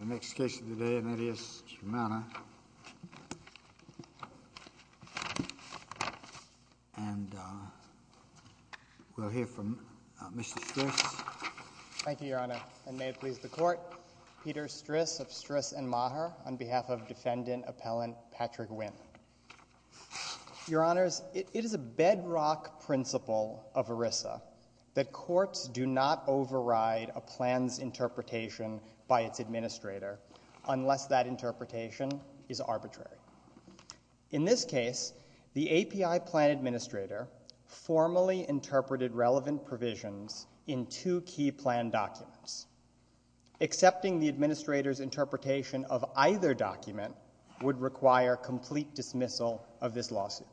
The next case of the day, and that is Shimana. And we'll hear from Mr. Stris. Thank you, Your Honor, and may it please the Court. Peter Stris of Stris & Maher, on behalf of Defendant Appellant Patrick Nguyen. Your Honors, it is a bedrock principle of ERISA that courts do not override a plan's interpretation by its administrator unless that interpretation is arbitrary. In this case, the API plan administrator formally interpreted relevant provisions in two key plan documents. Accepting the administrator's interpretation of either document would require complete dismissal of this lawsuit.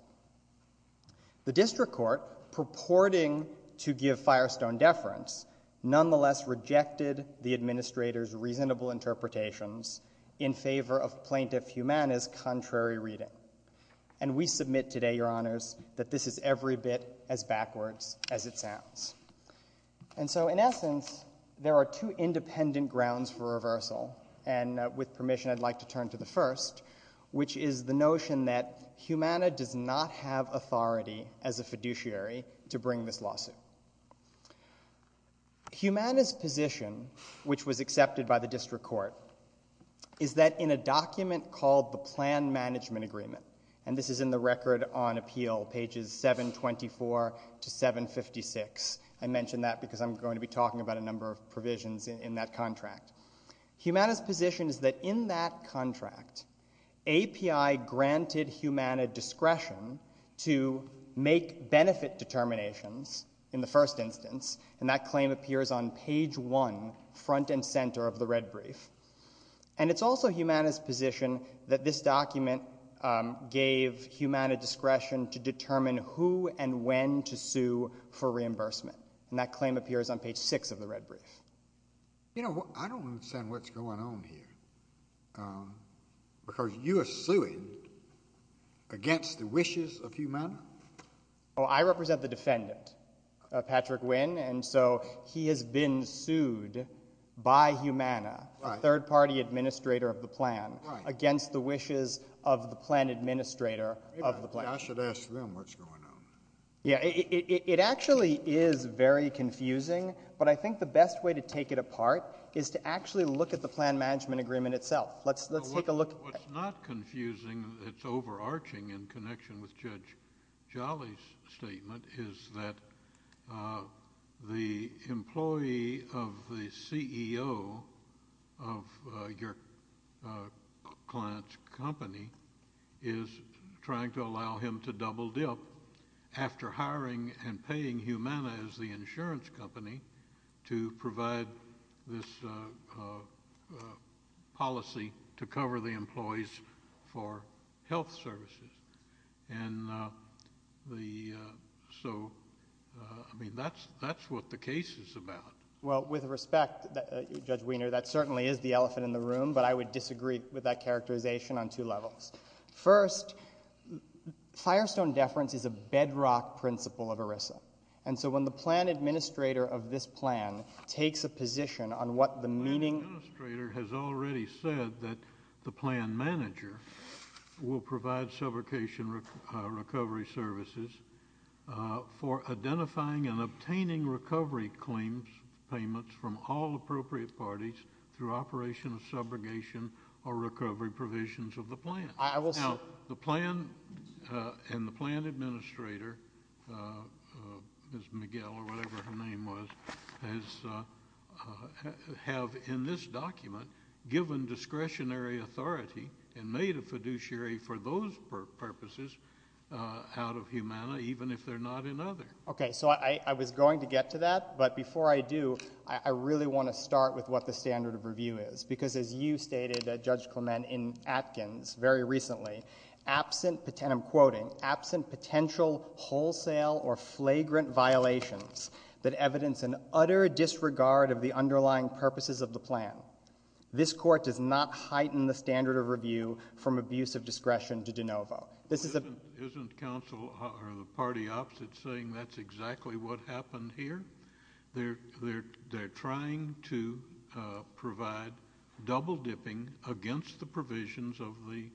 The District Court, purporting to give Firestone deference, nonetheless rejected the administrator's reasonable interpretations in favor of Plaintiff Humana's contrary reading. And we submit today, Your Honors, that this is every bit as backwards as it sounds. And with permission, I'd like to turn to the first, which is the notion that Humana does not have authority as a fiduciary to bring this lawsuit. Humana's position, which was accepted by the District Court, is that in a document called the Plan Management Agreement, and this is in the Record on Appeal, pages 724 to 756. I mention that because I'm going to be talking about a number of provisions in that contract. Humana's position is that in that contract, API granted Humana discretion to make benefit determinations in the first instance, and that claim appears on page 1, front and center of the red brief. And it's also Humana's position that this document gave Humana discretion to determine who and when to sue for reimbursement, and that claim appears on page 6 of the red brief. You know, I don't understand what's going on here, because you are suing against the wishes of Humana. Well, I represent the defendant, Patrick Wynn, and so he has been sued by Humana, the third-party administrator of the plan, against the wishes of the plan administrator of the plan. Maybe I should ask them what's going on. Yeah, it actually is very confusing, but I think the best way to take it apart is to actually look at the plan management agreement itself. Let's take a look. What's not confusing that's overarching in connection with Judge Jolly's statement is that the employee of the CEO of your client's company is trying to allow him to double-dip after hiring and paying Humana as the insurance company to provide this policy to cover the employees for health services. And so, I mean, that's what the case is about. Well, with respect, Judge Wiener, that certainly is the elephant in the room, but I would disagree with that characterization on two levels. First, firestone deference is a bedrock principle of ERISA, and so when the plan administrator of this plan takes a position on what the meaning... The plan administrator has already said that the plan manager will provide subrogation recovery services for identifying and obtaining recovery claims payments from all appropriate parties through operation of subrogation or recovery provisions of the plan. Now, the plan and the plan administrator, Ms. Miguel or whatever her name was, have in this document given discretionary authority and made a fiduciary for those purposes out of Humana, even if they're not in other. Okay, so I was going to get to that, but before I do, I really want to start with what the standard of review is, because as you stated, Judge Clement, in Atkins very recently, absent... And I'm quoting, "...absent potential wholesale or flagrant violations that evidence an utter disregard of the underlying purposes of the plan, this Court does not heighten the standard of review from abuse of discretion to de novo." Isn't counsel or the party opposite saying that's exactly what happened here? They're trying to provide double-dipping against the provisions of the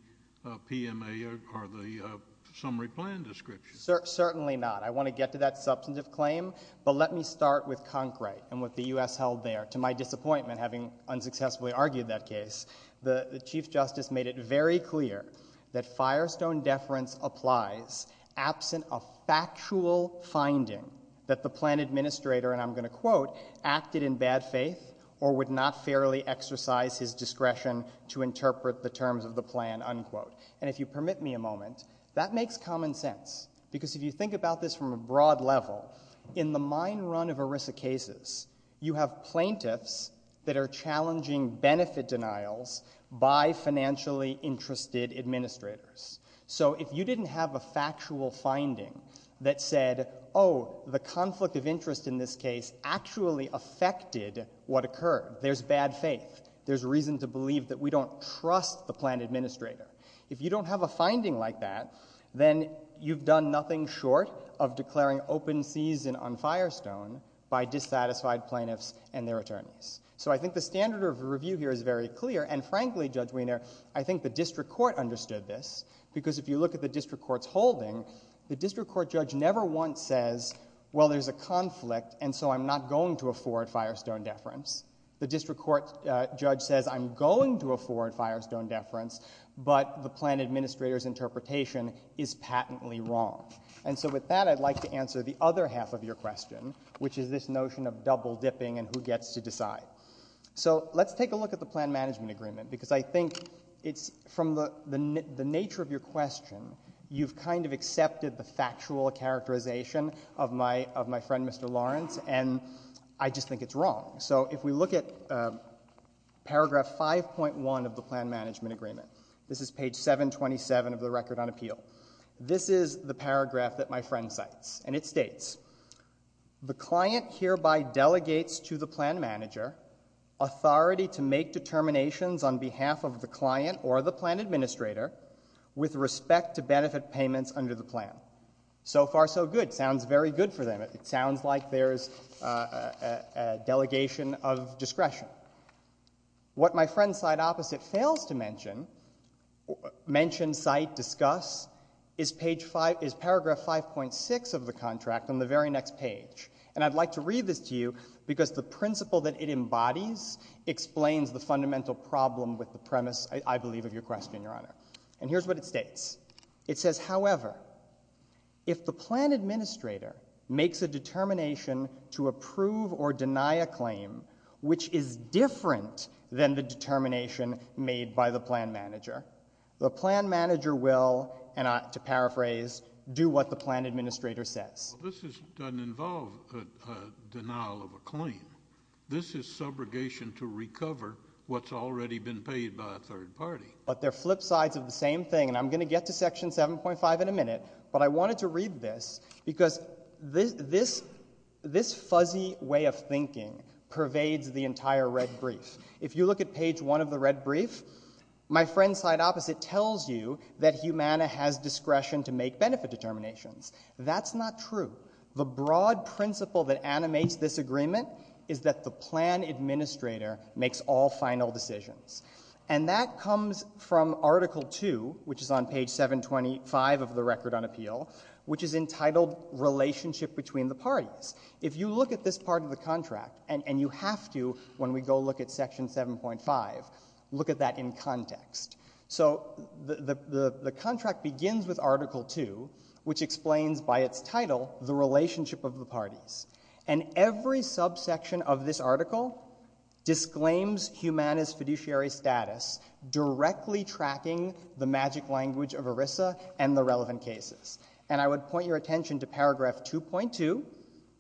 PMA or the summary plan description. Certainly not. I want to get to that substantive claim, but let me start with Concrete and what the U.S. held there. To my disappointment, having unsuccessfully argued that case, the Chief Justice made it very clear that firestone deference applies absent a factual finding that the plan administrator, and I'm going to quote, "...acted in bad faith or would not fairly exercise his discretion to interpret the terms of the plan." And if you permit me a moment, that makes common sense, because if you think about this from a broad level, in the mine run of ERISA cases, you have plaintiffs that are challenging benefit denials by financially interested administrators. So if you didn't have a factual finding that said, oh, the conflict of interest in this case actually affected what occurred. There's bad faith. There's reason to believe that we don't trust the plan administrator. If you don't have a finding like that, then you've done nothing short of declaring open season on firestone by dissatisfied plaintiffs and their attorneys. So I think the standard of review here is very clear, and frankly, Judge Wiener, I think the district court understood this, because if you look at the district court's holding, the district court judge never once says, well, there's a conflict, and so I'm not going to afford firestone deference. The district court judge says I'm going to afford firestone deference, but the plan administrator's interpretation is patently wrong. And so with that, I'd like to answer the other half of your question, which is this notion of double-dipping and who gets to decide. So let's take a look at the plan management agreement, because I think it's from the nature of your question, you've kind of accepted the factual characterization of my friend Mr. Lawrence, and I just think it's wrong. So if we look at paragraph 5.1 of the plan management agreement, this is page 727 of the record on appeal, this is the paragraph that my friend cites, and it states, the client hereby delegates to the plan manager authority to make determinations on behalf of the client or the plan administrator with respect to benefit payments under the plan. So far, so good. Sounds very good for them. It sounds like there's a delegation of discretion. What my friend cite opposite fails to mention, mention, cite, discuss, is paragraph 5.6 of the contract on the very next page. And I'd like to read this to you because the principle that it embodies explains the fundamental problem with the premise, I believe, of your question, Your Honor. And here's what it states. It says, however, if the plan administrator makes a determination to approve or deny a claim which is different than the determination made by the plan manager, the plan manager will, and to paraphrase, do what the plan administrator says. This doesn't involve a denial of a claim. This is subrogation to recover what's already been paid by a third party. But they're flip sides of the same thing, and I'm going to get to section 7.5 in a minute, but I wanted to read this because this fuzzy way of thinking pervades the entire red brief. If you look at page 1 of the red brief, my friend cite opposite tells you that Humana has discretion to make benefit determinations. That's not true. The broad principle that animates this agreement is that the plan administrator makes all final decisions. And that comes from article 2, which is on page 725 of the record on appeal, which is entitled Relationship Between the Parties. If you look at this part of the contract, and you have to when we go look at section 7.5, look at that in context. So the contract begins with article 2, which explains by its title the relationship of the parties. And every subsection of this article disclaims Humana's fiduciary status directly tracking the magic language of ERISA and the relevant cases. And I would point your attention to paragraph 2.2.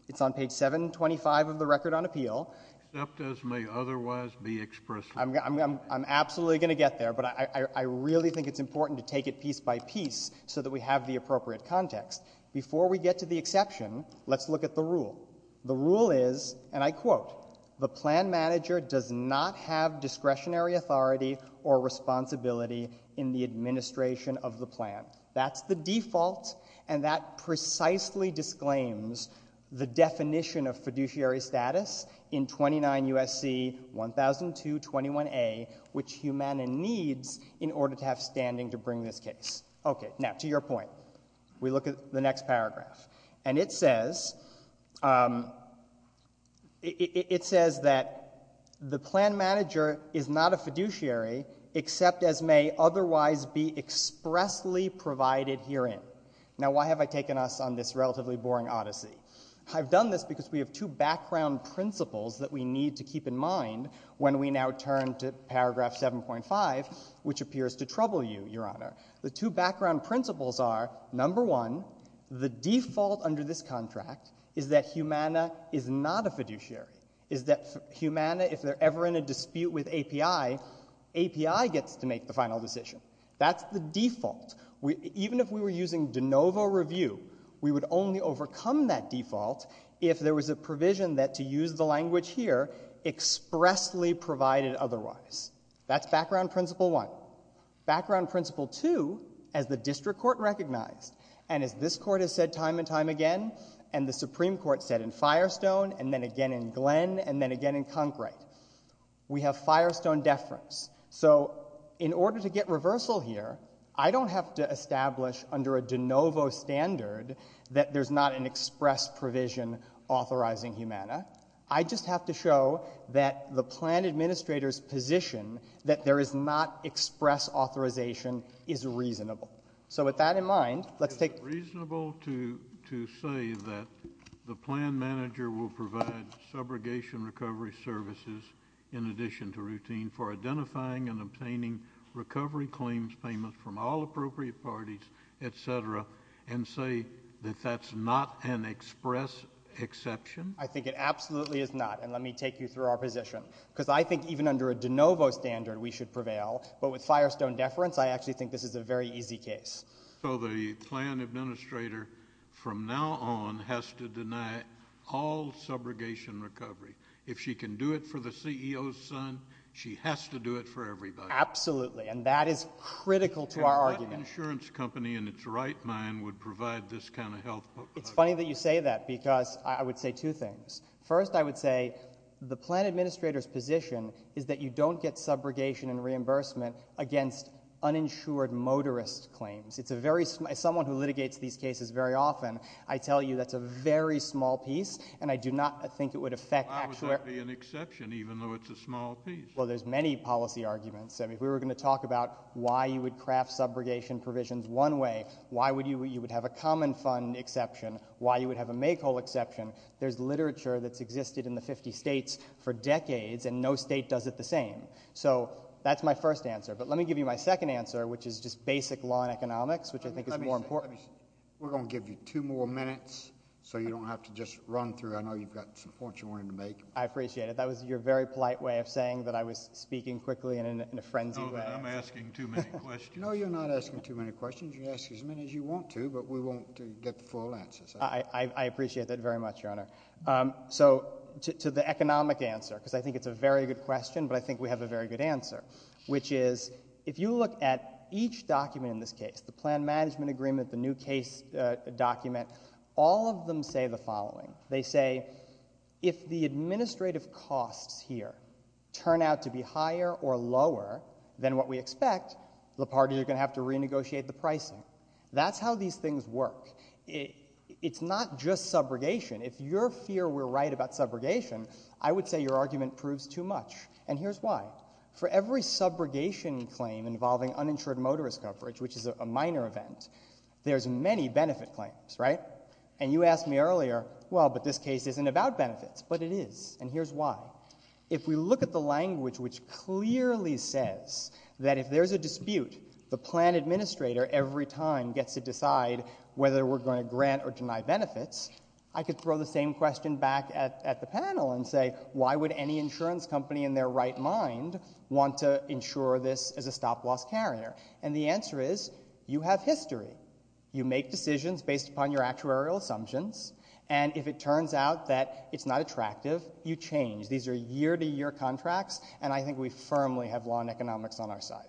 It's on page 725 of the record on appeal. Except as may otherwise be expressed. I'm absolutely going to get there, but I really think it's important to take it piece by piece so that we have the appropriate context. Before we get to the exception, let's look at the rule. The rule is, and I quote, the plan manager does not have discretionary authority or responsibility in the administration of the plan. That's the default, and that precisely disclaims the definition of fiduciary status in 29 U.S.C. 100221A, which Humana needs in order to have standing to bring this case. Okay, now to your point. We look at the next paragraph. And it says... It says that the plan manager is not a fiduciary except as may otherwise be expressly provided herein. Now, why have I taken us on this relatively boring odyssey? I've done this because we have two background principles that we need to keep in mind when we now turn to paragraph 7.5, which appears to trouble you, Your Honor. The two background principles are, number one, the default under this contract is that Humana is not a fiduciary, is that Humana, if they're ever in a dispute with API, API gets to make the final decision. That's the default. Even if we were using de novo review, we would only overcome that default if there was a provision that, to use the language here, expressly provided otherwise. That's background principle one. Background principle two, as the district court recognized, and as this court has said time and time again, and the Supreme Court said in Firestone and then again in Glenn and then again in Conkright, we have Firestone deference. So in order to get reversal here, I don't have to establish under a de novo standard that there's not an express provision authorizing Humana. I just have to show that the plan administrator's position that there is not express authorization is reasonable. So with that in mind, let's take... Is it reasonable to say that the plan manager will provide subrogation recovery services in addition to routine for identifying and obtaining recovery claims payments from all appropriate parties, etc., and say that that's not an express exception? I think it absolutely is not, and let me take you through our position. Because I think even under a de novo standard we should prevail, but with Firestone deference, I actually think this is a very easy case. So the plan administrator from now on has to deny all subrogation recovery. If she can do it for the CEO's son, she has to do it for everybody. Absolutely, and that is critical to our argument. And what insurance company in its right mind would provide this kind of health... It's funny that you say that, because I would say two things. First, I would say the plan administrator's position is that you don't get subrogation and reimbursement against uninsured motorist claims. As someone who litigates these cases very often, I tell you that's a very small piece, and I do not think it would affect... Why would that be an exception, even though it's a small piece? Well, there's many policy arguments. If we were going to talk about why you would craft subrogation provisions one way, why you would have a common fund exception, why you would have a make-all exception, there's literature that's existed in the 50 states for decades, and no state does it the same. So that's my first answer. But let me give you my second answer, which is just basic law and economics, which I think is more important. We're going to give you two more minutes, so you don't have to just run through. I know you've got some points you wanted to make. I appreciate it. That was your very polite way of saying that I was speaking quickly and in a frenzied way. No, I'm asking too many questions. No, you're not asking too many questions. You can ask as many as you want to, but we won't get full answers. I appreciate that very much, Your Honor. So to the economic answer, because I think it's a very good question, but I think we have a very good answer, which is if you look at each document in this case, the plan management agreement, the new case document, all of them say the following. They say if the administrative costs here turn out to be higher or lower than what we expect, the parties are going to have to renegotiate the pricing. That's how these things work. It's not just subrogation. If your fear were right about subrogation, I would say your argument proves too much, and here's why. For every subrogation claim involving uninsured motorist coverage, which is a minor event, there's many benefit claims, right? And you asked me earlier, well, but this case isn't about benefits. But it is, and here's why. If we look at the language which clearly says that if there's a dispute, the plan administrator every time gets to decide whether we're going to grant or deny benefits, I could throw the same question back at the panel and say, why would any insurance company in their right mind want to insure this as a stop-loss carrier? And the answer is, you have history. You make decisions based upon your actuarial assumptions, and if it turns out that it's not attractive, you change. These are year-to-year contracts, and I think we firmly have law and economics on our side.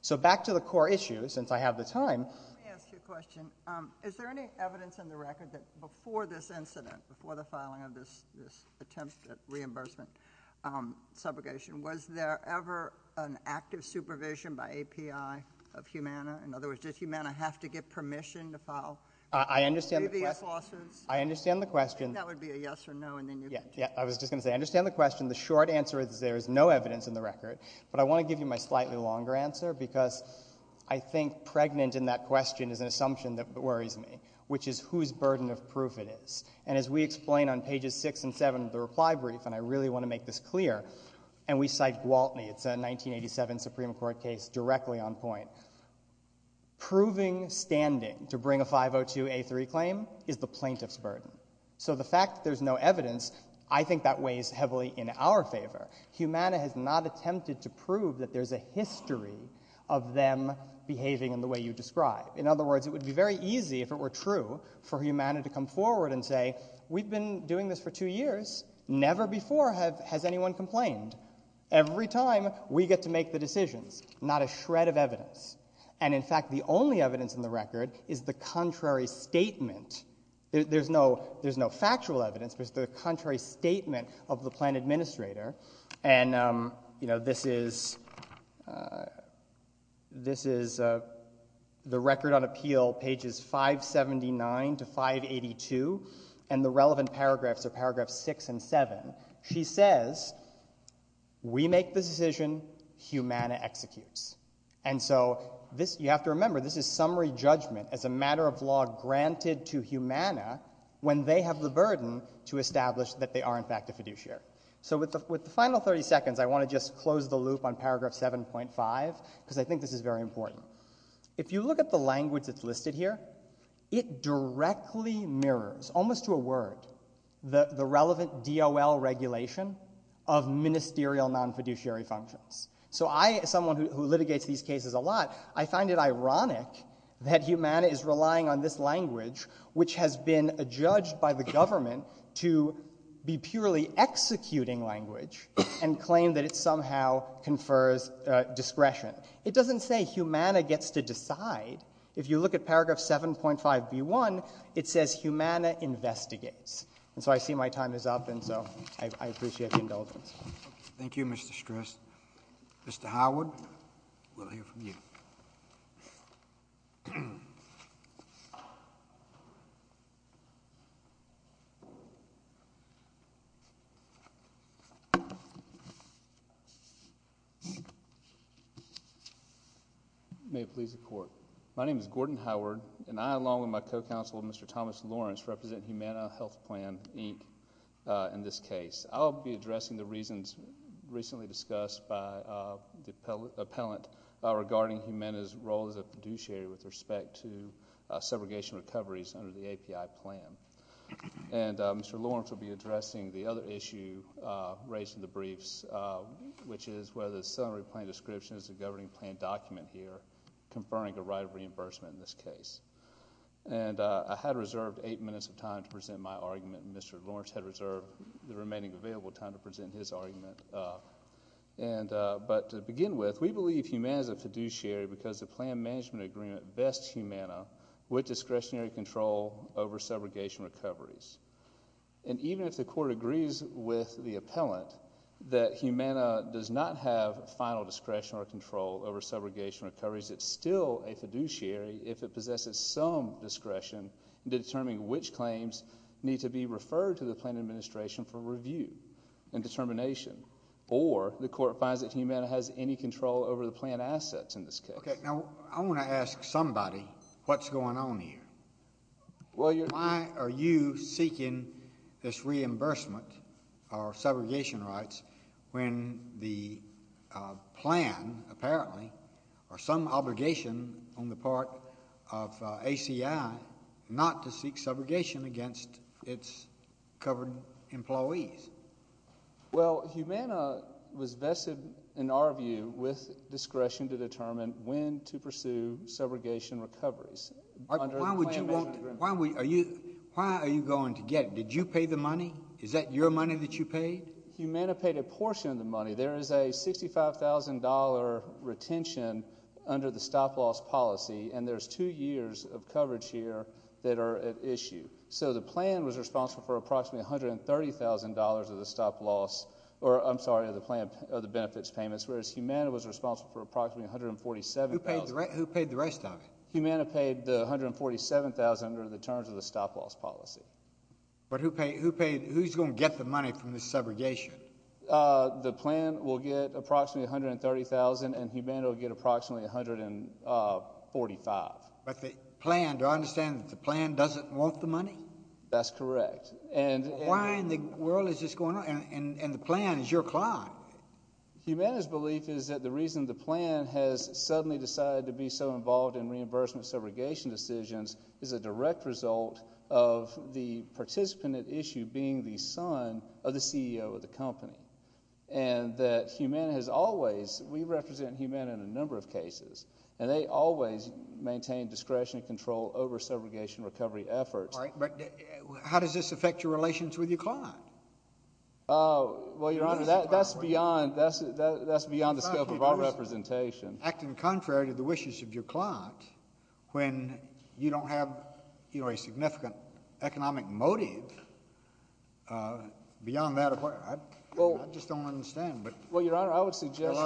So back to the core issue, since I have the time. Let me ask you a question. Is there any evidence in the record that before this incident, before the filing of this attempt at reimbursement subrogation, was there ever an active supervision by API of Humana? In other words, does Humana have to get permission to file... I understand the question. ...DVS lawsuits? I understand the question. That would be a yes or no, and then you... Yeah, I was just going to say, I understand the question. The short answer is there is no evidence in the record, but I want to give you my slightly longer answer because I think pregnant in that question is an assumption that worries me, which is whose burden of proof it is. And as we explain on pages 6 and 7 of the reply brief, and I really want to make this clear, and we cite Gwaltney, it's a 1987 Supreme Court case, directly on point. Proving standing to bring a 502A3 claim is the plaintiff's burden. So the fact that there's no evidence, I think that weighs heavily in our favor. Humana has not attempted to prove that there's a history of them behaving in the way you describe. In other words, it would be very easy, if it were true, for Humana to come forward and say, we've been doing this for two years, never before has anyone complained. Every time, we get to make the decisions, not a shred of evidence. And in fact, the only evidence in the record is the contrary statement. There's no factual evidence, but it's the contrary statement of the plan administrator. And, you know, this is... This is the record on appeal, pages 579 to 582, and the relevant paragraphs are paragraphs 6 and 7. She says, we make the decision, Humana executes. And so you have to remember, this is summary judgment as a matter of law granted to Humana when they have the burden to establish that they are, in fact, a fiduciary. So with the final 30 seconds, I want to just close the loop on paragraph 7.5, because I think this is very important. If you look at the language that's listed here, it directly mirrors, almost to a word, the relevant DOL regulation of ministerial non-fiduciary functions. So I, as someone who litigates these cases a lot, I find it ironic that Humana is relying on this language, which has been adjudged by the government to be purely executing language and claim that it somehow confers discretion. It doesn't say Humana gets to decide. If you look at paragraph 7.5b1, it says Humana investigates. And so I see my time is up, and so I appreciate the indulgence. Thank you, Mr. Stress. Mr. Howard, we'll hear from you. Thank you. May it please the court. My name is Gordon Howard, and I, along with my co-counsel, Mr. Thomas Lawrence, represent Humana Health Plan, Inc., in this case. I'll be addressing the reasons recently discussed by the appellant regarding Humana's role as a fiduciary with respect to segregation recoveries under the API plan. And Mr. Lawrence will be addressing the other issue raised in the briefs, which is whether the summary plan description is a governing plan document here conferring a right of reimbursement in this case. And I had reserved 8 minutes of time to present my argument, and Mr. Lawrence had reserved the remaining available time to present his argument. But to begin with, we believe Humana is a fiduciary because the plan management agreement vests Humana with discretionary control over segregation recoveries. And even if the court agrees with the appellant that Humana does not have final discretion or control over segregation recoveries, it's still a fiduciary if it possesses some discretion in determining which claims need to be referred to the plan administration for review and determination. Or the court finds that Humana has any control over the plan assets in this case. Okay, now, I want to ask somebody what's going on here. Why are you seeking this reimbursement or segregation rights when the plan, apparently, or some obligation on the part of ACI not to seek segregation against its covered employees? Well, Humana was vested, in our view, with discretion to determine when to pursue segregation recoveries. Why are you going to get it? Did you pay the money? Is that your money that you paid? Humana paid a portion of the money. There is a $65,000 retention under the stop-loss policy, and there's two years of coverage here that are at issue. So the plan was responsible for approximately $130,000 of the benefits payments, whereas Humana was responsible for approximately $147,000. Who paid the rest of it? Humana paid the $147,000 under the terms of the stop-loss policy. But who's going to get the money from this segregation? The plan will get approximately $130,000, and Humana will get approximately $145,000. But the plan, do I understand that the plan doesn't want the money? That's correct. Why in the world is this going on? And the plan is your client. Humana's belief is that the reason the plan has suddenly decided to be so involved in reimbursement segregation decisions is a direct result of the participant at issue being the son of the CEO of the company, and that Humana has always, we represent Humana in a number of cases, and they always maintain discretion and control over segregation recovery efforts. All right, but how does this affect your relations with your client? Well, Your Honor, that's beyond the scope of our representation. Act in contrary to the wishes of your client when you don't have a significant economic motive beyond that. I just don't understand. Well, Your Honor, I would suggest... Well,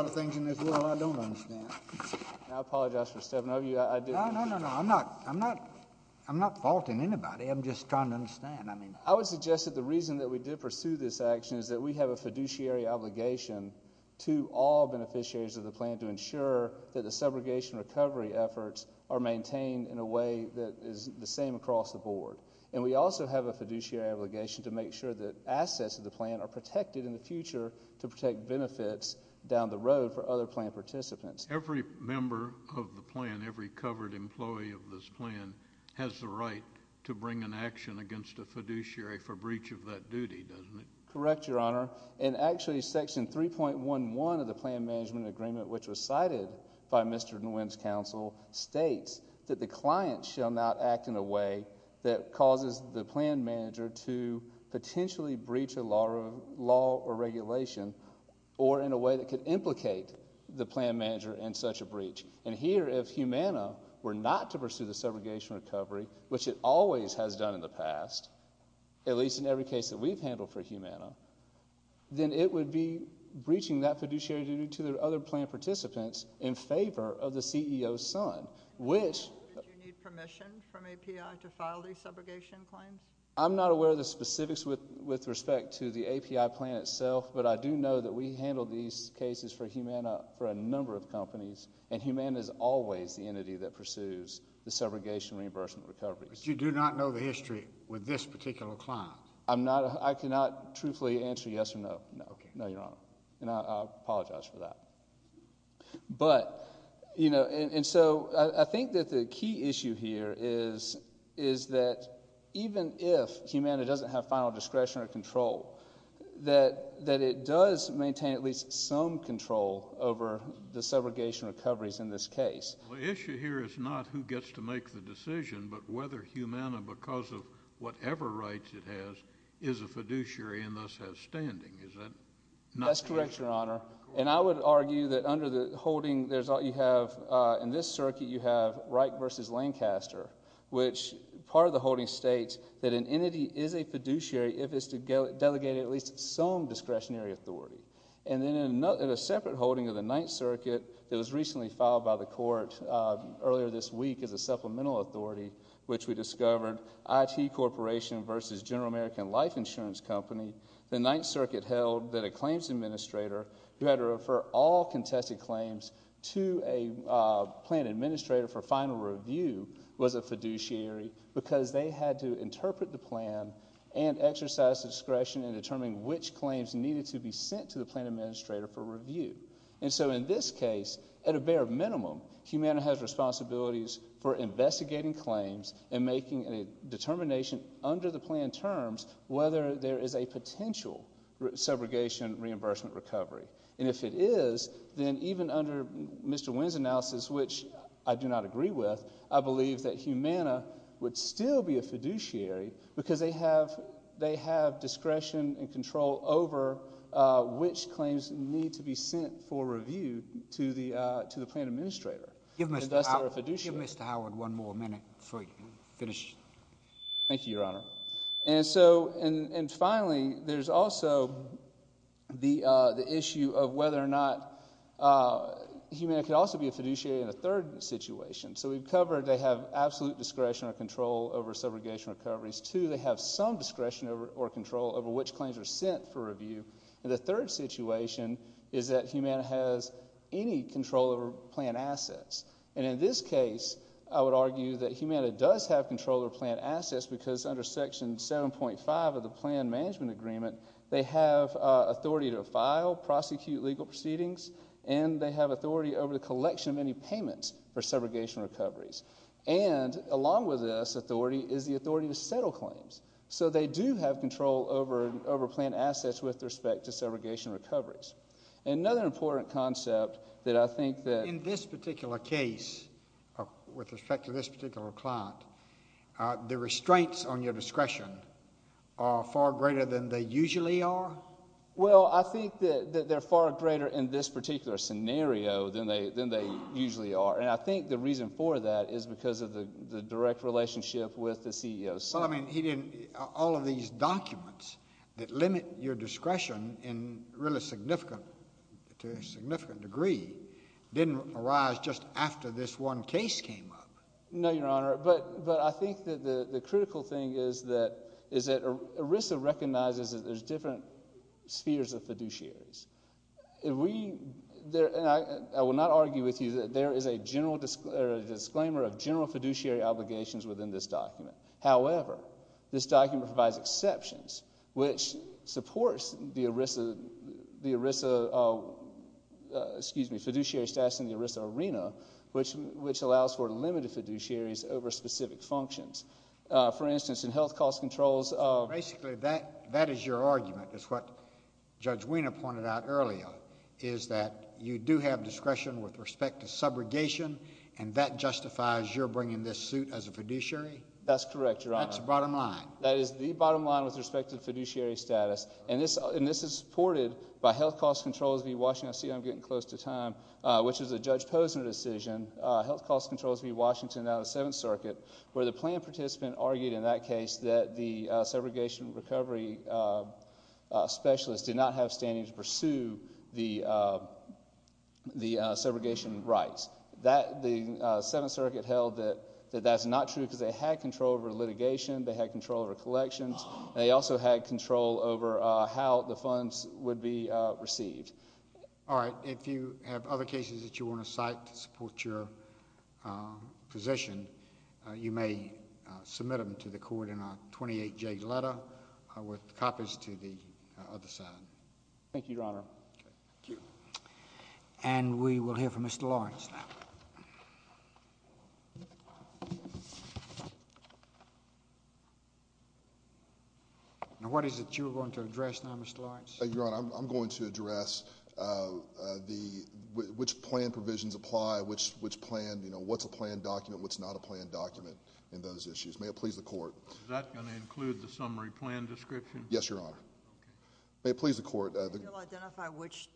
I don't understand. I apologize for stepping over you. No, no, no, I'm not faulting anybody. I'm just trying to understand. I would suggest that the reason that we did pursue this action is that we have a fiduciary obligation to all beneficiaries of the plan to ensure that the segregation recovery efforts are maintained in a way that is the same across the board. And we also have a fiduciary obligation to make sure that assets of the plan are protected in the future to protect benefits down the road for other plan participants. Every member of the plan, every covered employee of this plan, has the right to bring an action against a fiduciary for breach of that duty, doesn't it? Correct, Your Honor. And actually Section 3.11 of the Plan Management Agreement, which was cited by Mr. Nguyen's counsel, states that the client shall not act in a way that causes the plan manager to potentially breach a law or regulation or in a way that could implicate the plan manager in such a breach. And here, if Humana were not to pursue the segregation recovery, which it always has done in the past, at least in every case that we've handled for Humana, then it would be breaching that fiduciary duty to the other plan participants in favor of the CEO's son, which... Did you need permission from API to file these subrogation claims? I'm not aware of the specifics with respect to the API plan itself, but I do know that we handle these cases for Humana for a number of companies, and Humana is always the entity that pursues the subrogation reimbursement recovery. But you do not know the history with this particular client? I cannot truthfully answer yes or no. No, Your Honor, and I apologize for that. But, you know, and so I think that the key issue here is that even if Humana doesn't have final discretion or control, that it does maintain at least some control over the subrogation recoveries in this case. The issue here is not who gets to make the decision, but whether Humana, because of whatever rights it has, is a fiduciary and thus has standing. That's correct, Your Honor. And I would argue that under the holding, in this circuit you have Wright v. Lancaster, which part of the holding states that an entity is a fiduciary if it's delegated at least some discretionary authority. And then in a separate holding of the Ninth Circuit that was recently filed by the court earlier this week as a supplemental authority, which we discovered, IT Corporation v. General American Life Insurance Company, the Ninth Circuit held that a claims administrator who had to refer all contested claims to a plan administrator for final review was a fiduciary because they had to interpret the plan and exercise discretion in determining which claims needed to be sent to the plan administrator for review. And so in this case, at a bare minimum, Humana has responsibilities for investigating claims and making a determination under the plan terms whether there is a potential subrogation reimbursement recovery. And if it is, then even under Mr Wynn's analysis, which I do not agree with, I believe that Humana would still be a fiduciary because they have discretion and control over which claims need to be sent for review to the plan administrator, and thus they're a fiduciary. Give Mr Howard one more minute. Thank you, Your Honor. And finally, there's also the issue of whether or not Humana could also be a fiduciary in a third situation. So we've covered they have absolute discretion or control over subrogation recoveries. Two, they have some discretion or control over which claims are sent for review. And the third situation is that Humana has any control over plan assets. And in this case, I would argue that Humana does have control over plan assets because under Section 7.5 of the Plan Management Agreement, they have authority to file, prosecute legal proceedings, and they have authority over the collection of any payments for subrogation recoveries. And along with this authority is the authority to settle claims. So they do have control over plan assets with respect to subrogation recoveries. Another important concept that I think that... In this case, with respect to this particular client, the restraints on your discretion are far greater than they usually are? Well, I think that they're far greater in this particular scenario than they usually are. And I think the reason for that is because of the direct relationship with the CEO. Well, I mean, he didn't... All of these documents that limit your discretion in really significant... to a significant degree didn't arise just after this one case came up. No, Your Honor, but I think that the critical thing is that ERISA recognizes that there's different spheres of fiduciaries. If we... And I will not argue with you that there is a general disclaimer of general fiduciary obligations within this document. However, this document provides exceptions, which supports the ERISA... excuse me, fiduciary status in the ERISA arena, which allows for limited fiduciaries over specific functions. For instance, in health cost controls... Basically, that is your argument, is what Judge Wiener pointed out earlier, is that you do have discretion with respect to subrogation, and that justifies your bringing this suit as a fiduciary? That's correct, Your Honor. That's the bottom line. That is the bottom line with respect to fiduciary status. And this is supported by health cost controls v. Washington... I see I'm getting close to time... which is a Judge Posner decision, health cost controls v. Washington out of the Seventh Circuit, where the plan participant argued in that case that the subrogation recovery specialists did not have standing to pursue the subrogation rights. The Seventh Circuit held that that's not true because they had control over litigation, they had control over collections, and they also had control over how the funds would be received. All right. If you have other cases that you want to cite to support your position, you may submit them to the court in a 28-J letter with copies to the other side. Thank you, Your Honor. And we will hear from Mr. Lawrence now. Now, what is it you're going to address now, Mr. Lawrence? Thank you, Your Honor. I'm going to address which plan provisions apply, which plan, you know, what's a plan document, what's not a plan document in those issues. May it please the court. Is that going to include the summary plan description? Yes, Your Honor. May it please the court. You'll identify which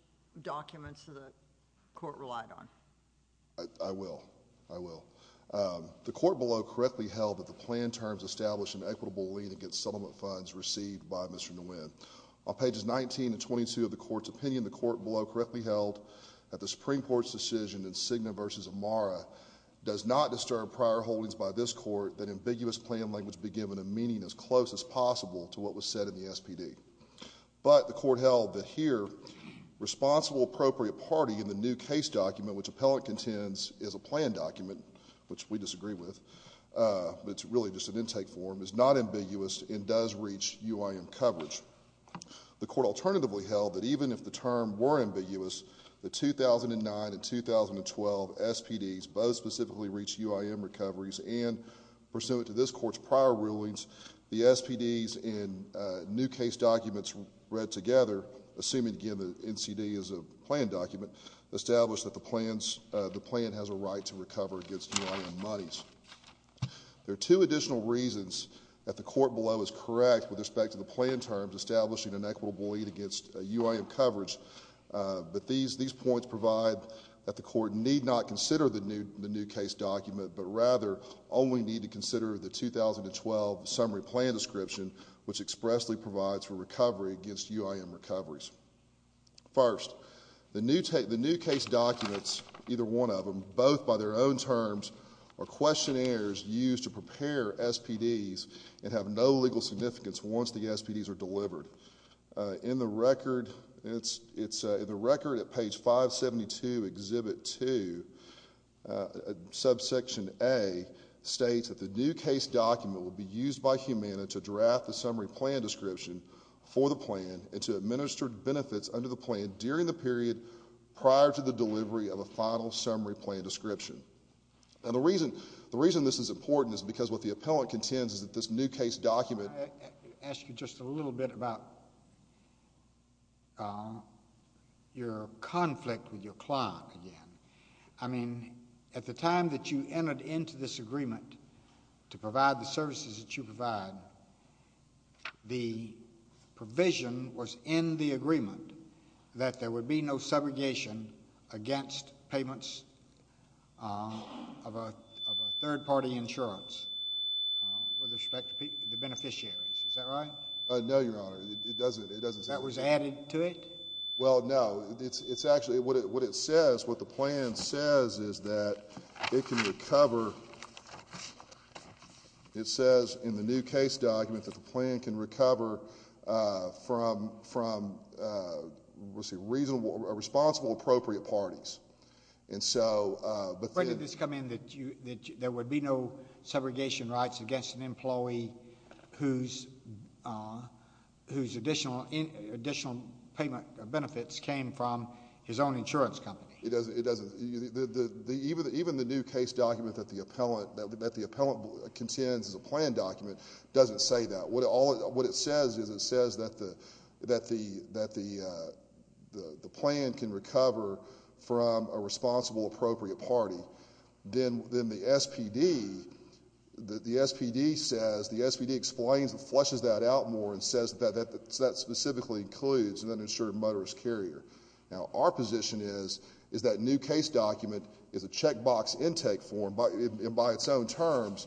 documents the court relied on. I will. I will. The court below correctly held that the plan terms established an equitable lien against settlement funds received by Mr. Nguyen. On pages 19 and 22 of the court's opinion, the court below correctly held that the Supreme Court's decision in Cigna v. Amara does not disturb prior holdings by this court that ambiguous plan language be given a meaning as close as possible to what was said in the SPD. But the court held that here, responsible appropriate party in the new case document which appellant contends is a plan document, which we disagree with, but it's really just an intake form, is not ambiguous and does reach UIM coverage. The court alternatively held that even if the term were ambiguous, the 2009 and 2012 SPDs both specifically reach UIM recoveries and pursuant to this court's prior rulings, the SPDs in new case documents read together, assuming, again, the NCD is a plan document, establish that the plan has a right to recover against UIM monies. There are two additional reasons that the court below is correct with respect to the plan terms establishing an equitable lien against UIM coverage, but these points provide that the court need not consider the new case document but rather only need to consider the 2012 summary plan description which expressly provides for recovery against UIM recoveries. First, the new case documents, either one of them, both by their own terms, are questionnaires used to prepare SPDs and have no legal significance once the SPDs are delivered. In the record at page 572, Exhibit 2, subsection A states that the new case document will be used by Humana to draft the summary plan description for the plan and to administer benefits under the plan during the period prior to the delivery of a final summary plan description. And the reason this is important is because what the appellant contends is that this new case document... I'll ask you just a little bit about your conflict with your client again. I mean, at the time that you entered into this agreement to provide the services that you provide, the provision was in the agreement that there would be no segregation against payments of a third-party insurance with respect to the beneficiaries. Is that right? No, Your Honor, it doesn't say that. That was added to it? Well, no. It's actually... What it says, what the plan says is that it can recover... It says in the new case document that the plan can recover from, let's see, responsible appropriate parties. And so... When did this come in that there would be no segregation rights against an employee whose additional payment benefits came from his own insurance company? It doesn't. Even the new case document that the appellant contends is a plan document doesn't say that. What it says is it says that the plan can recover from a responsible appropriate party. Then the SPD says, the SPD explains and flushes that out more and says that that specifically includes an uninsured motorist carrier. Now, our position is that new case document is a checkbox intake form, and by its own terms,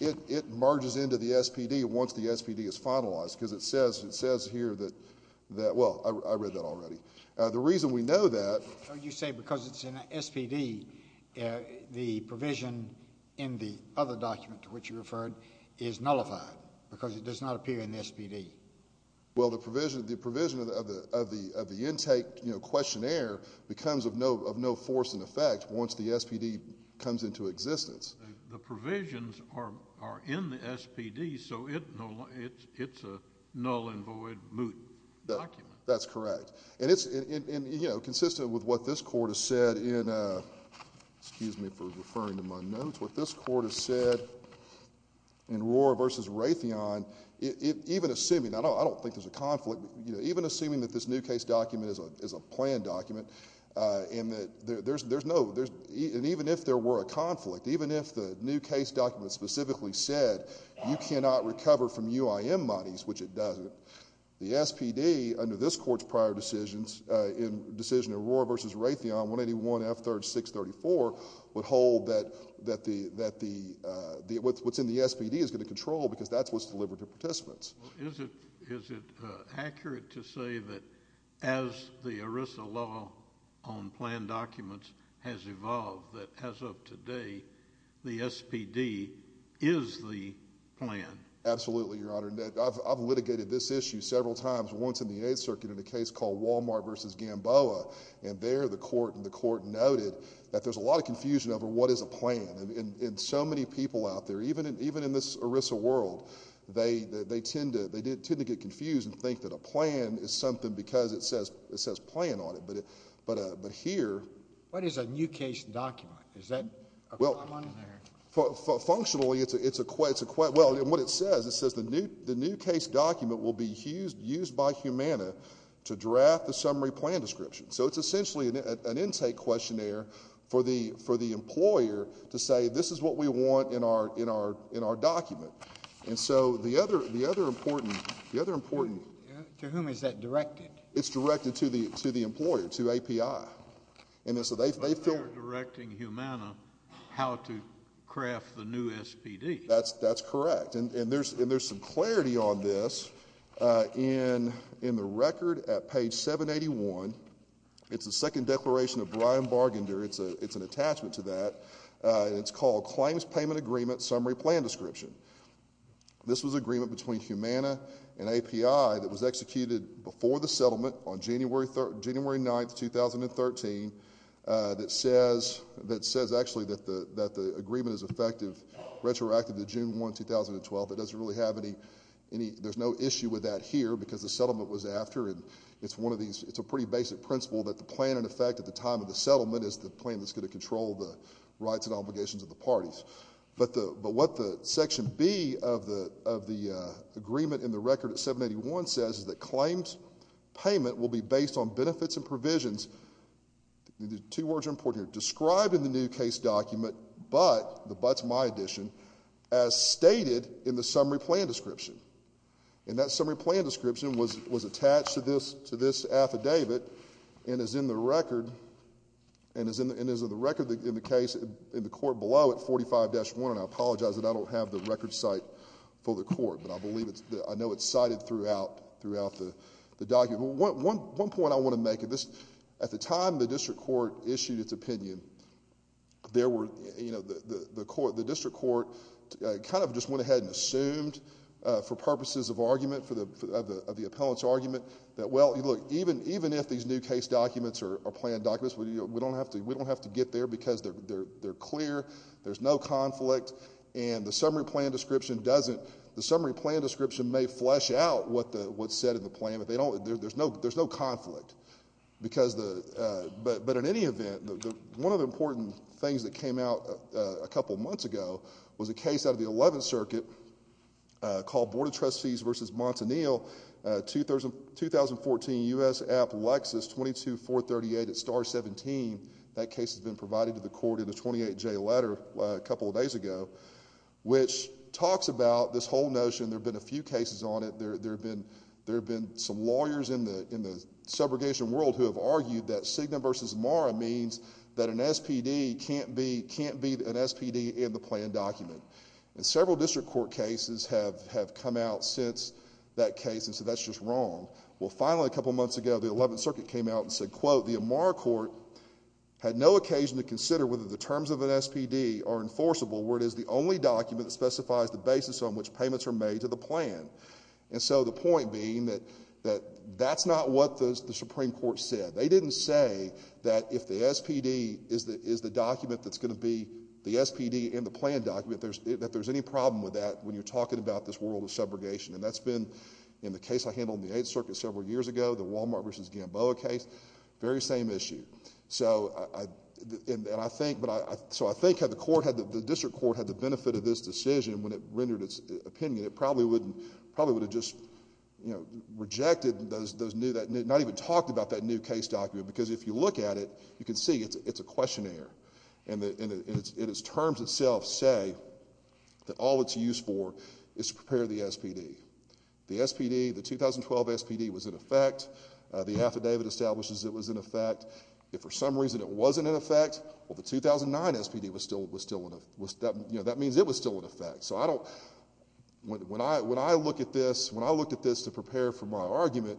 it merges into the SPD once the SPD is finalized because it says here that... Well, I read that already. The reason we know that... You say because it's in the SPD, the provision in the other document to which you referred is nullified because it does not appear in the SPD. Well, the provision of the intake questionnaire becomes of no force and effect once the SPD comes into existence. The provisions are in the SPD, so it's a null and void moot document. That's correct. It's consistent with what this court has said in... Excuse me for referring to my notes. What this court has said in Rohrer v. Raytheon, even assuming... I don't think there's a conflict. Even assuming that this new case document is a plan document and that there's no... And even if there were a conflict, even if the new case document specifically said you cannot recover from UIM monies, which it doesn't, the SPD, under this court's prior decisions, in decision of Rohrer v. Raytheon, 181F3634, would hold that what's in the SPD is going to control because that's what's delivered to participants. Is it accurate to say that as the ERISA law on plan documents has evolved, that as of today, the SPD is the plan? Absolutely, Your Honor. I've litigated this issue several times, once in the United Circuit in a case called Walmart v. Gamboa, and there the court noted that there's a lot of confusion over what is a plan. And so many people out there, even in this ERISA world, they tend to get confused and think that a plan is something because it says plan on it. But here... What is a new case document? Is that a requirement? Functionally, it's a... Well, what it says, it says the new case document will be used by Humana to draft the summary plan description. So it's essentially an intake questionnaire for the employer to say, this is what we want in our document. And so the other important... To whom is that directed? It's directed to the employer, to API. So they're directing Humana how to craft the new SPD. That's correct. And there's some clarity on this in the record at page 781. It's the second declaration of Brian Bargander. It's an attachment to that. It's called Claims Payment Agreement Summary Plan Description. This was an agreement between Humana and API that was executed before the settlement on January 9, 2013 that says actually that the agreement is effective retroactive to June 1, 2012. It doesn't really have any... There's no issue with that here because the settlement was after. And it's one of these... It's a pretty basic principle that the plan in effect at the time of the settlement is the plan that's going to control the rights and obligations of the parties. But what the section B of the agreement in the record at 781 says is that claims payment will be based on benefits and provisions. Two words are important here. Described in the new case document, but the but's my addition, as stated in the summary plan description. And that summary plan description was attached to this affidavit and is in the record in the case in the court below at 45-1. And I apologize that I don't have the record site for the court. But I know it's cited throughout the document. One point I want to make. At the time the district court issued its opinion, the district court kind of just went ahead and assumed for purposes of argument, of the appellant's argument, that well, look, even if these new case documents are planned documents, we don't have to get there because they're clear. There's no conflict. And the summary plan description doesn't... The summary plan description may flesh out what's said in the plan, but there's no conflict. But in any event, one of the important things that came out a couple months ago was a case out of the 11th Circuit called Board of Trustees v. Montanil, 2014 U.S. Appalachians 22438 at Star 17. That case has been provided to the court in a 28-J letter a couple of days ago, which talks about this whole notion. There have been a few cases on it. There have been some lawyers in the subrogation world who have argued that Cigna v. Amara means that an SPD can't be an SPD in the planned document. And several district court cases have come out since that case, and so that's just wrong. Well, finally, a couple months ago, the 11th Circuit came out and said, quote, the Amara court had no occasion to consider whether the terms of an SPD are enforceable where it is the only document that specifies the basis on which payments are made to the plan. And so the point being that that's not what the Supreme Court said. They didn't say that if the SPD is the document that's going to be the SPD in the planned document, that there's any problem with that when you're talking about this world of subrogation. And that's been in the case I handled in the 8th Circuit several years ago, the Walmart v. Gamboa case, very same issue. So I think had the district court had the benefit of this decision when it rendered its opinion, it probably would have just rejected those new, not even talked about that new case document, because if you look at it, you can see it's a questionnaire. And its terms itself say that all it's used for is to prepare the SPD. The SPD, the 2012 SPD, was in effect. The affidavit establishes it was in effect. If for some reason it wasn't in effect, well, the 2009 SPD was still in effect. That means it was still in effect. So I don't, when I look at this, when I look at this to prepare for my argument,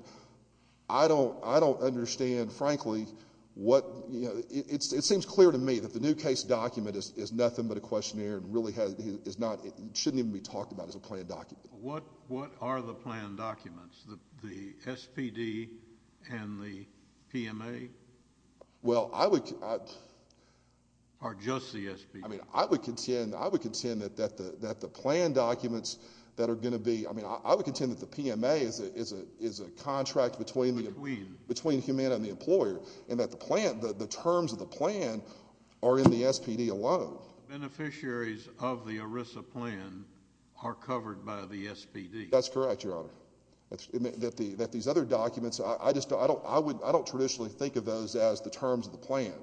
I don't understand, frankly, what, it seems clear to me that the new case document is nothing but a questionnaire and really shouldn't even be talked about as a planned document. What are the planned documents? The SPD and the PMA? Well, I would... Or just the SPD? I mean, I would contend, I would contend that the planned documents that are going to be, I mean, I would contend that the PMA is a contract between Humana and the employer and that the terms of the plan are in the SPD alone. Beneficiaries of the ERISA plan are covered by the SPD. That's correct, Your Honor. That these other documents, I just don't, I don't traditionally think of those as the terms of the plan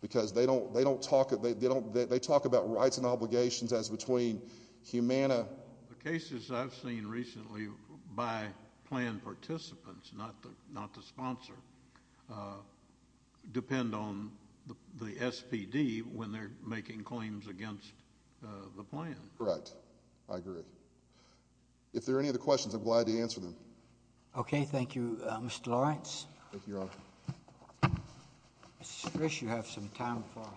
because they don't talk, they talk about rights and obligations as between Humana. The cases I've seen recently by plan participants, not the sponsor, depend on the SPD when they're making claims against the plan. Correct. I agree. If there are any other questions, I'm glad to answer them. Okay, thank you, Mr. Lawrence. Thank you, Your Honor. Mr. Scrish, you have some time for us.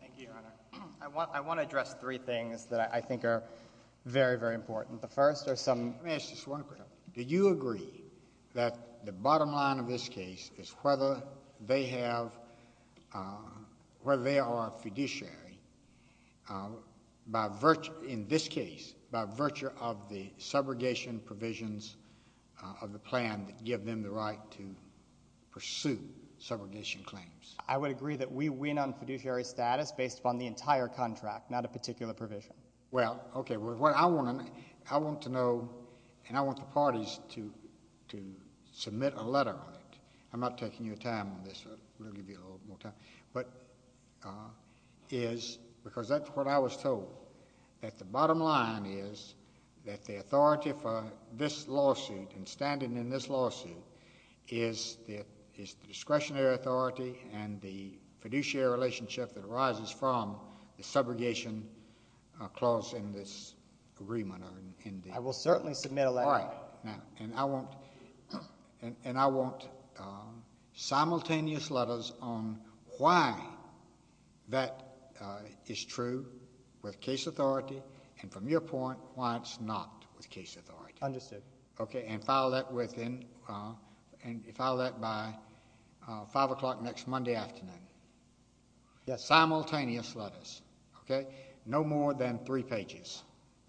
Thank you, Your Honor. I want to address three things that I think are very, very important. The first are some... Let me ask just one question. Do you agree that the bottom line of this case is whether they have, whether they are a fiduciary by virtue, in this case, by virtue of the subrogation provisions of the plan that give them the right to pursue subrogation claims? I would agree that we win on fiduciary status based upon the entire contract, not a particular provision. Well, okay. What I want to know, and I want the parties to submit a letter on it. I'm not taking your time on this. We'll give you a little more time. But... is, because that's what I was told, that the bottom line is that the authority for this lawsuit and standing in this lawsuit is the discretionary authority and the fiduciary relationship that arises from the subrogation clause in this agreement. I will certainly submit a letter. All right. And I want simultaneous letters on why that is true with case authority and, from your point, why it's not with case authority. Understood. Okay, and file that within, file that by 5 o'clock next Monday afternoon. Yes. Simultaneous letters, okay? No more than three pages,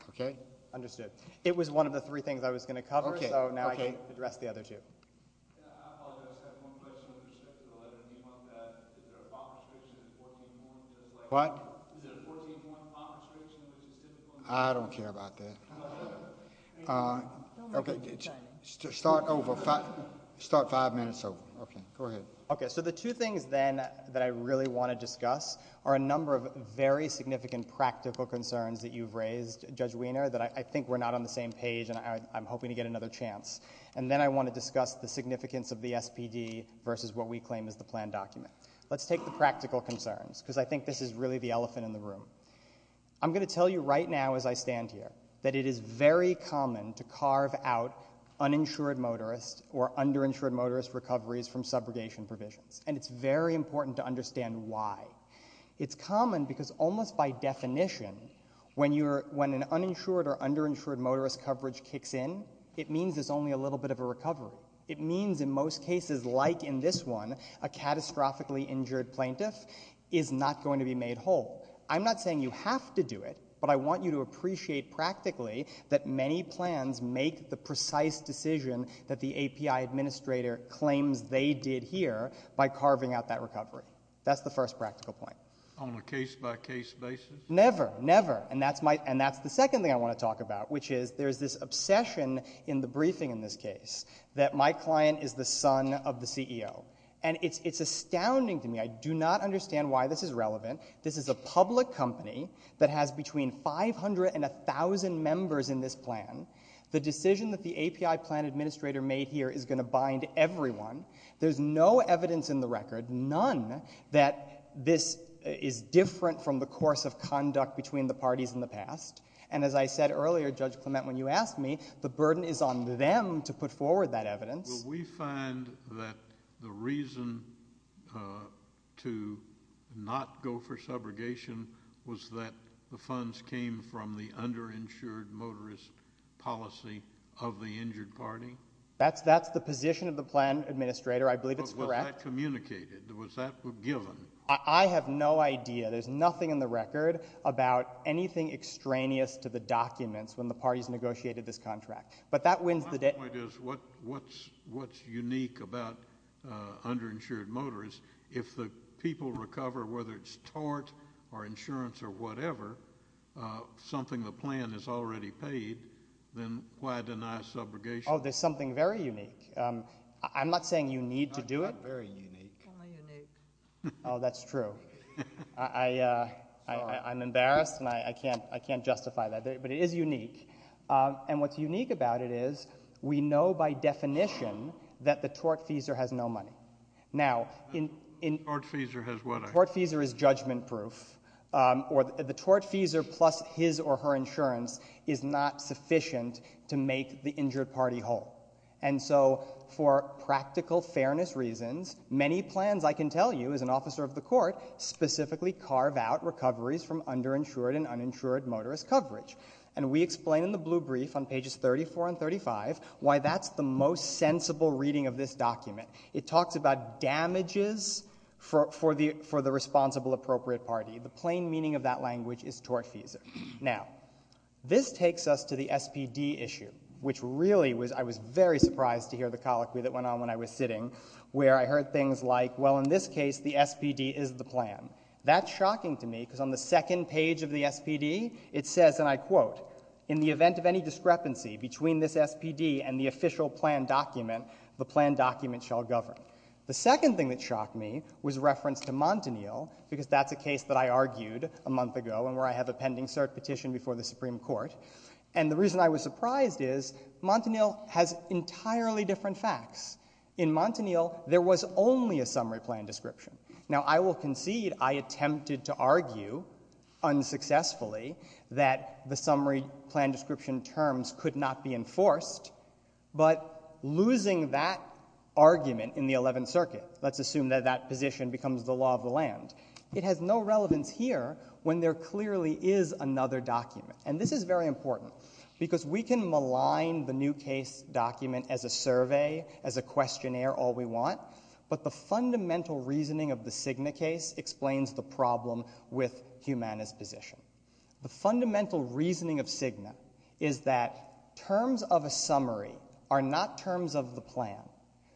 okay? Understood. It was one of the three things I was going to cover, so now I can address the other two. I apologize. I have one question with respect to the letter. Do you want that, is there a bond restriction in 14.1, just like... What? Is there a 14.1 bond restriction, which is typical... I don't care about that. Okay, start over. Start five minutes over. Okay, go ahead. Okay, so the two things, then, that I really want to discuss are a number of very significant practical concerns that you've raised, Judge Wiener, that I think were not on the same page and I'm hoping to get another chance. And then I want to discuss the significance of the SPD versus what we claim is the planned document. Let's take the practical concerns, because I think this is really the elephant in the room. I'm going to tell you right now as I stand here that it is very common to carve out uninsured motorists or underinsured motorist recoveries from subrogation provisions, and it's very important to understand why. It's common because almost by definition, when an uninsured or underinsured motorist coverage kicks in, it means there's only a little bit of a recovery. It means in most cases, like in this one, a catastrophically injured plaintiff is not going to be made whole. I'm not saying you have to do it, but I want you to appreciate practically that many plans make the precise decision that the API administrator claims they did here by carving out that recovery. That's the first practical point. On a case-by-case basis? Never, never. And that's the second thing I want to talk about, which is there's this obsession in the briefing in this case that my client is the son of the CEO. And it's astounding to me. I do not understand why this is relevant. This is a public company that has between 500 and 1,000 members in this plan. The decision that the API plan administrator made here is going to bind everyone. There's no evidence in the record, none, that this is different from the course of conduct between the parties in the past. And as I said earlier, Judge Clement, when you asked me, the burden is on them to put forward that evidence. Will we find that the reason to not go for subrogation was that the funds came from the underinsured motorist policy of the injured party? That's the position of the plan administrator. I believe it's correct. But was that communicated? Was that given? I have no idea. There's nothing in the record about anything extraneous to the documents when the parties negotiated this contract. But that wins the day. My point is, what's unique about underinsured motorists, if the people recover, whether it's tort or insurance or whatever, something the plan has already paid, then why deny subrogation? Oh, there's something very unique. I'm not saying you need to do it. Not very unique. Oh, that's true. I'm embarrassed, and I can't justify that. But it is unique. And what's unique about it is, we know by definition that the tortfeasor has no money. Tortfeasor has what? Tortfeasor is judgment-proof. The tortfeasor plus his or her insurance is not sufficient to make the injured party whole. And so for practical fairness reasons, many plans, I can tell you, as an officer of the court, specifically carve out recoveries from underinsured and uninsured motorist coverage. And we explain in the blue brief on pages 34 and 35 why that's the most sensible reading of this document. It talks about damages for the responsible appropriate party. The plain meaning of that language is tortfeasor. Now, this takes us to the SPD issue, which really was, I was very surprised to hear the colloquy that went on when I was sitting, where I heard things like, well, in this case, the SPD is the plan. That's shocking to me, because on the second page of the SPD, it says, and I quote, in the event of any discrepancy between this SPD and the official plan document, the plan document shall govern. The second thing that shocked me was reference to Montanil, because that's a case that I argued a month ago and where I have a pending cert petition before the Supreme Court. And the reason I was surprised is, Montanil has entirely different facts. In Montanil, there was only a summary plan description. Now, I will concede I attempted to argue, unsuccessfully, that the summary plan description terms could not be enforced, but losing that argument in the Eleventh Circuit, let's assume that that position becomes the law of the land, it has no relevance here when there clearly is another document. And this is very important, because we can malign the new case document as a survey, as a questionnaire, all we want, but the fundamental reasoning of the Cigna case explains the problem with Humana's position. The fundamental reasoning of Cigna is that terms of a summary are not terms of the plan,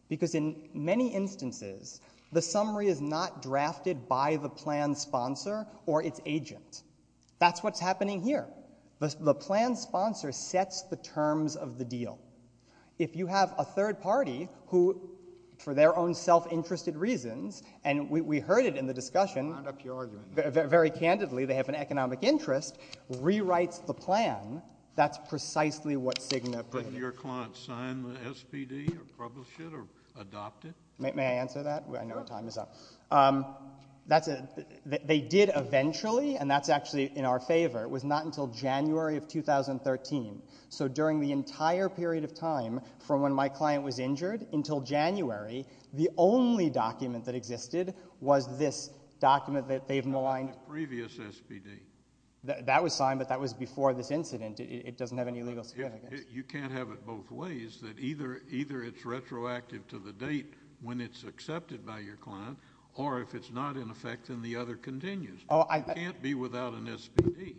because in many instances, the summary is not drafted by the plan sponsor or its agent. That's what's happening here. The plan sponsor sets the terms of the deal. If you have a third party, who, for their own self-interested reasons, and we heard it in the discussion, very candidly, they have an economic interest, rewrites the plan, that's precisely what Cigna... But your clients sign the SPD or publish it or adopt it? May I answer that? I know our time is up. They did eventually, and that's actually in our favor. It was not until January of 2013. So during the entire period of time, from when my client was injured until January, the only document that existed was this document that they've maligned. The previous SPD. That was signed, but that was before this incident. It doesn't have any legal significance. You can't have it both ways, that either it's retroactive to the date when it's accepted by your client, or if it's not in effect, then the other continues. You can't be without an SPD.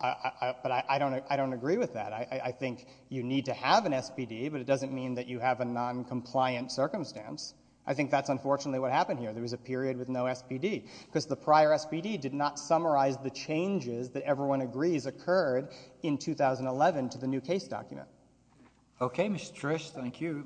But I don't agree with that. I think you need to have an SPD, but it doesn't mean that you have a noncompliant circumstance. I think that's unfortunately what happened here. There was a period with no SPD, because the prior SPD did not summarize the changes that everyone agrees occurred in 2011 to the new case document. Okay, Mr. Trish, thank you.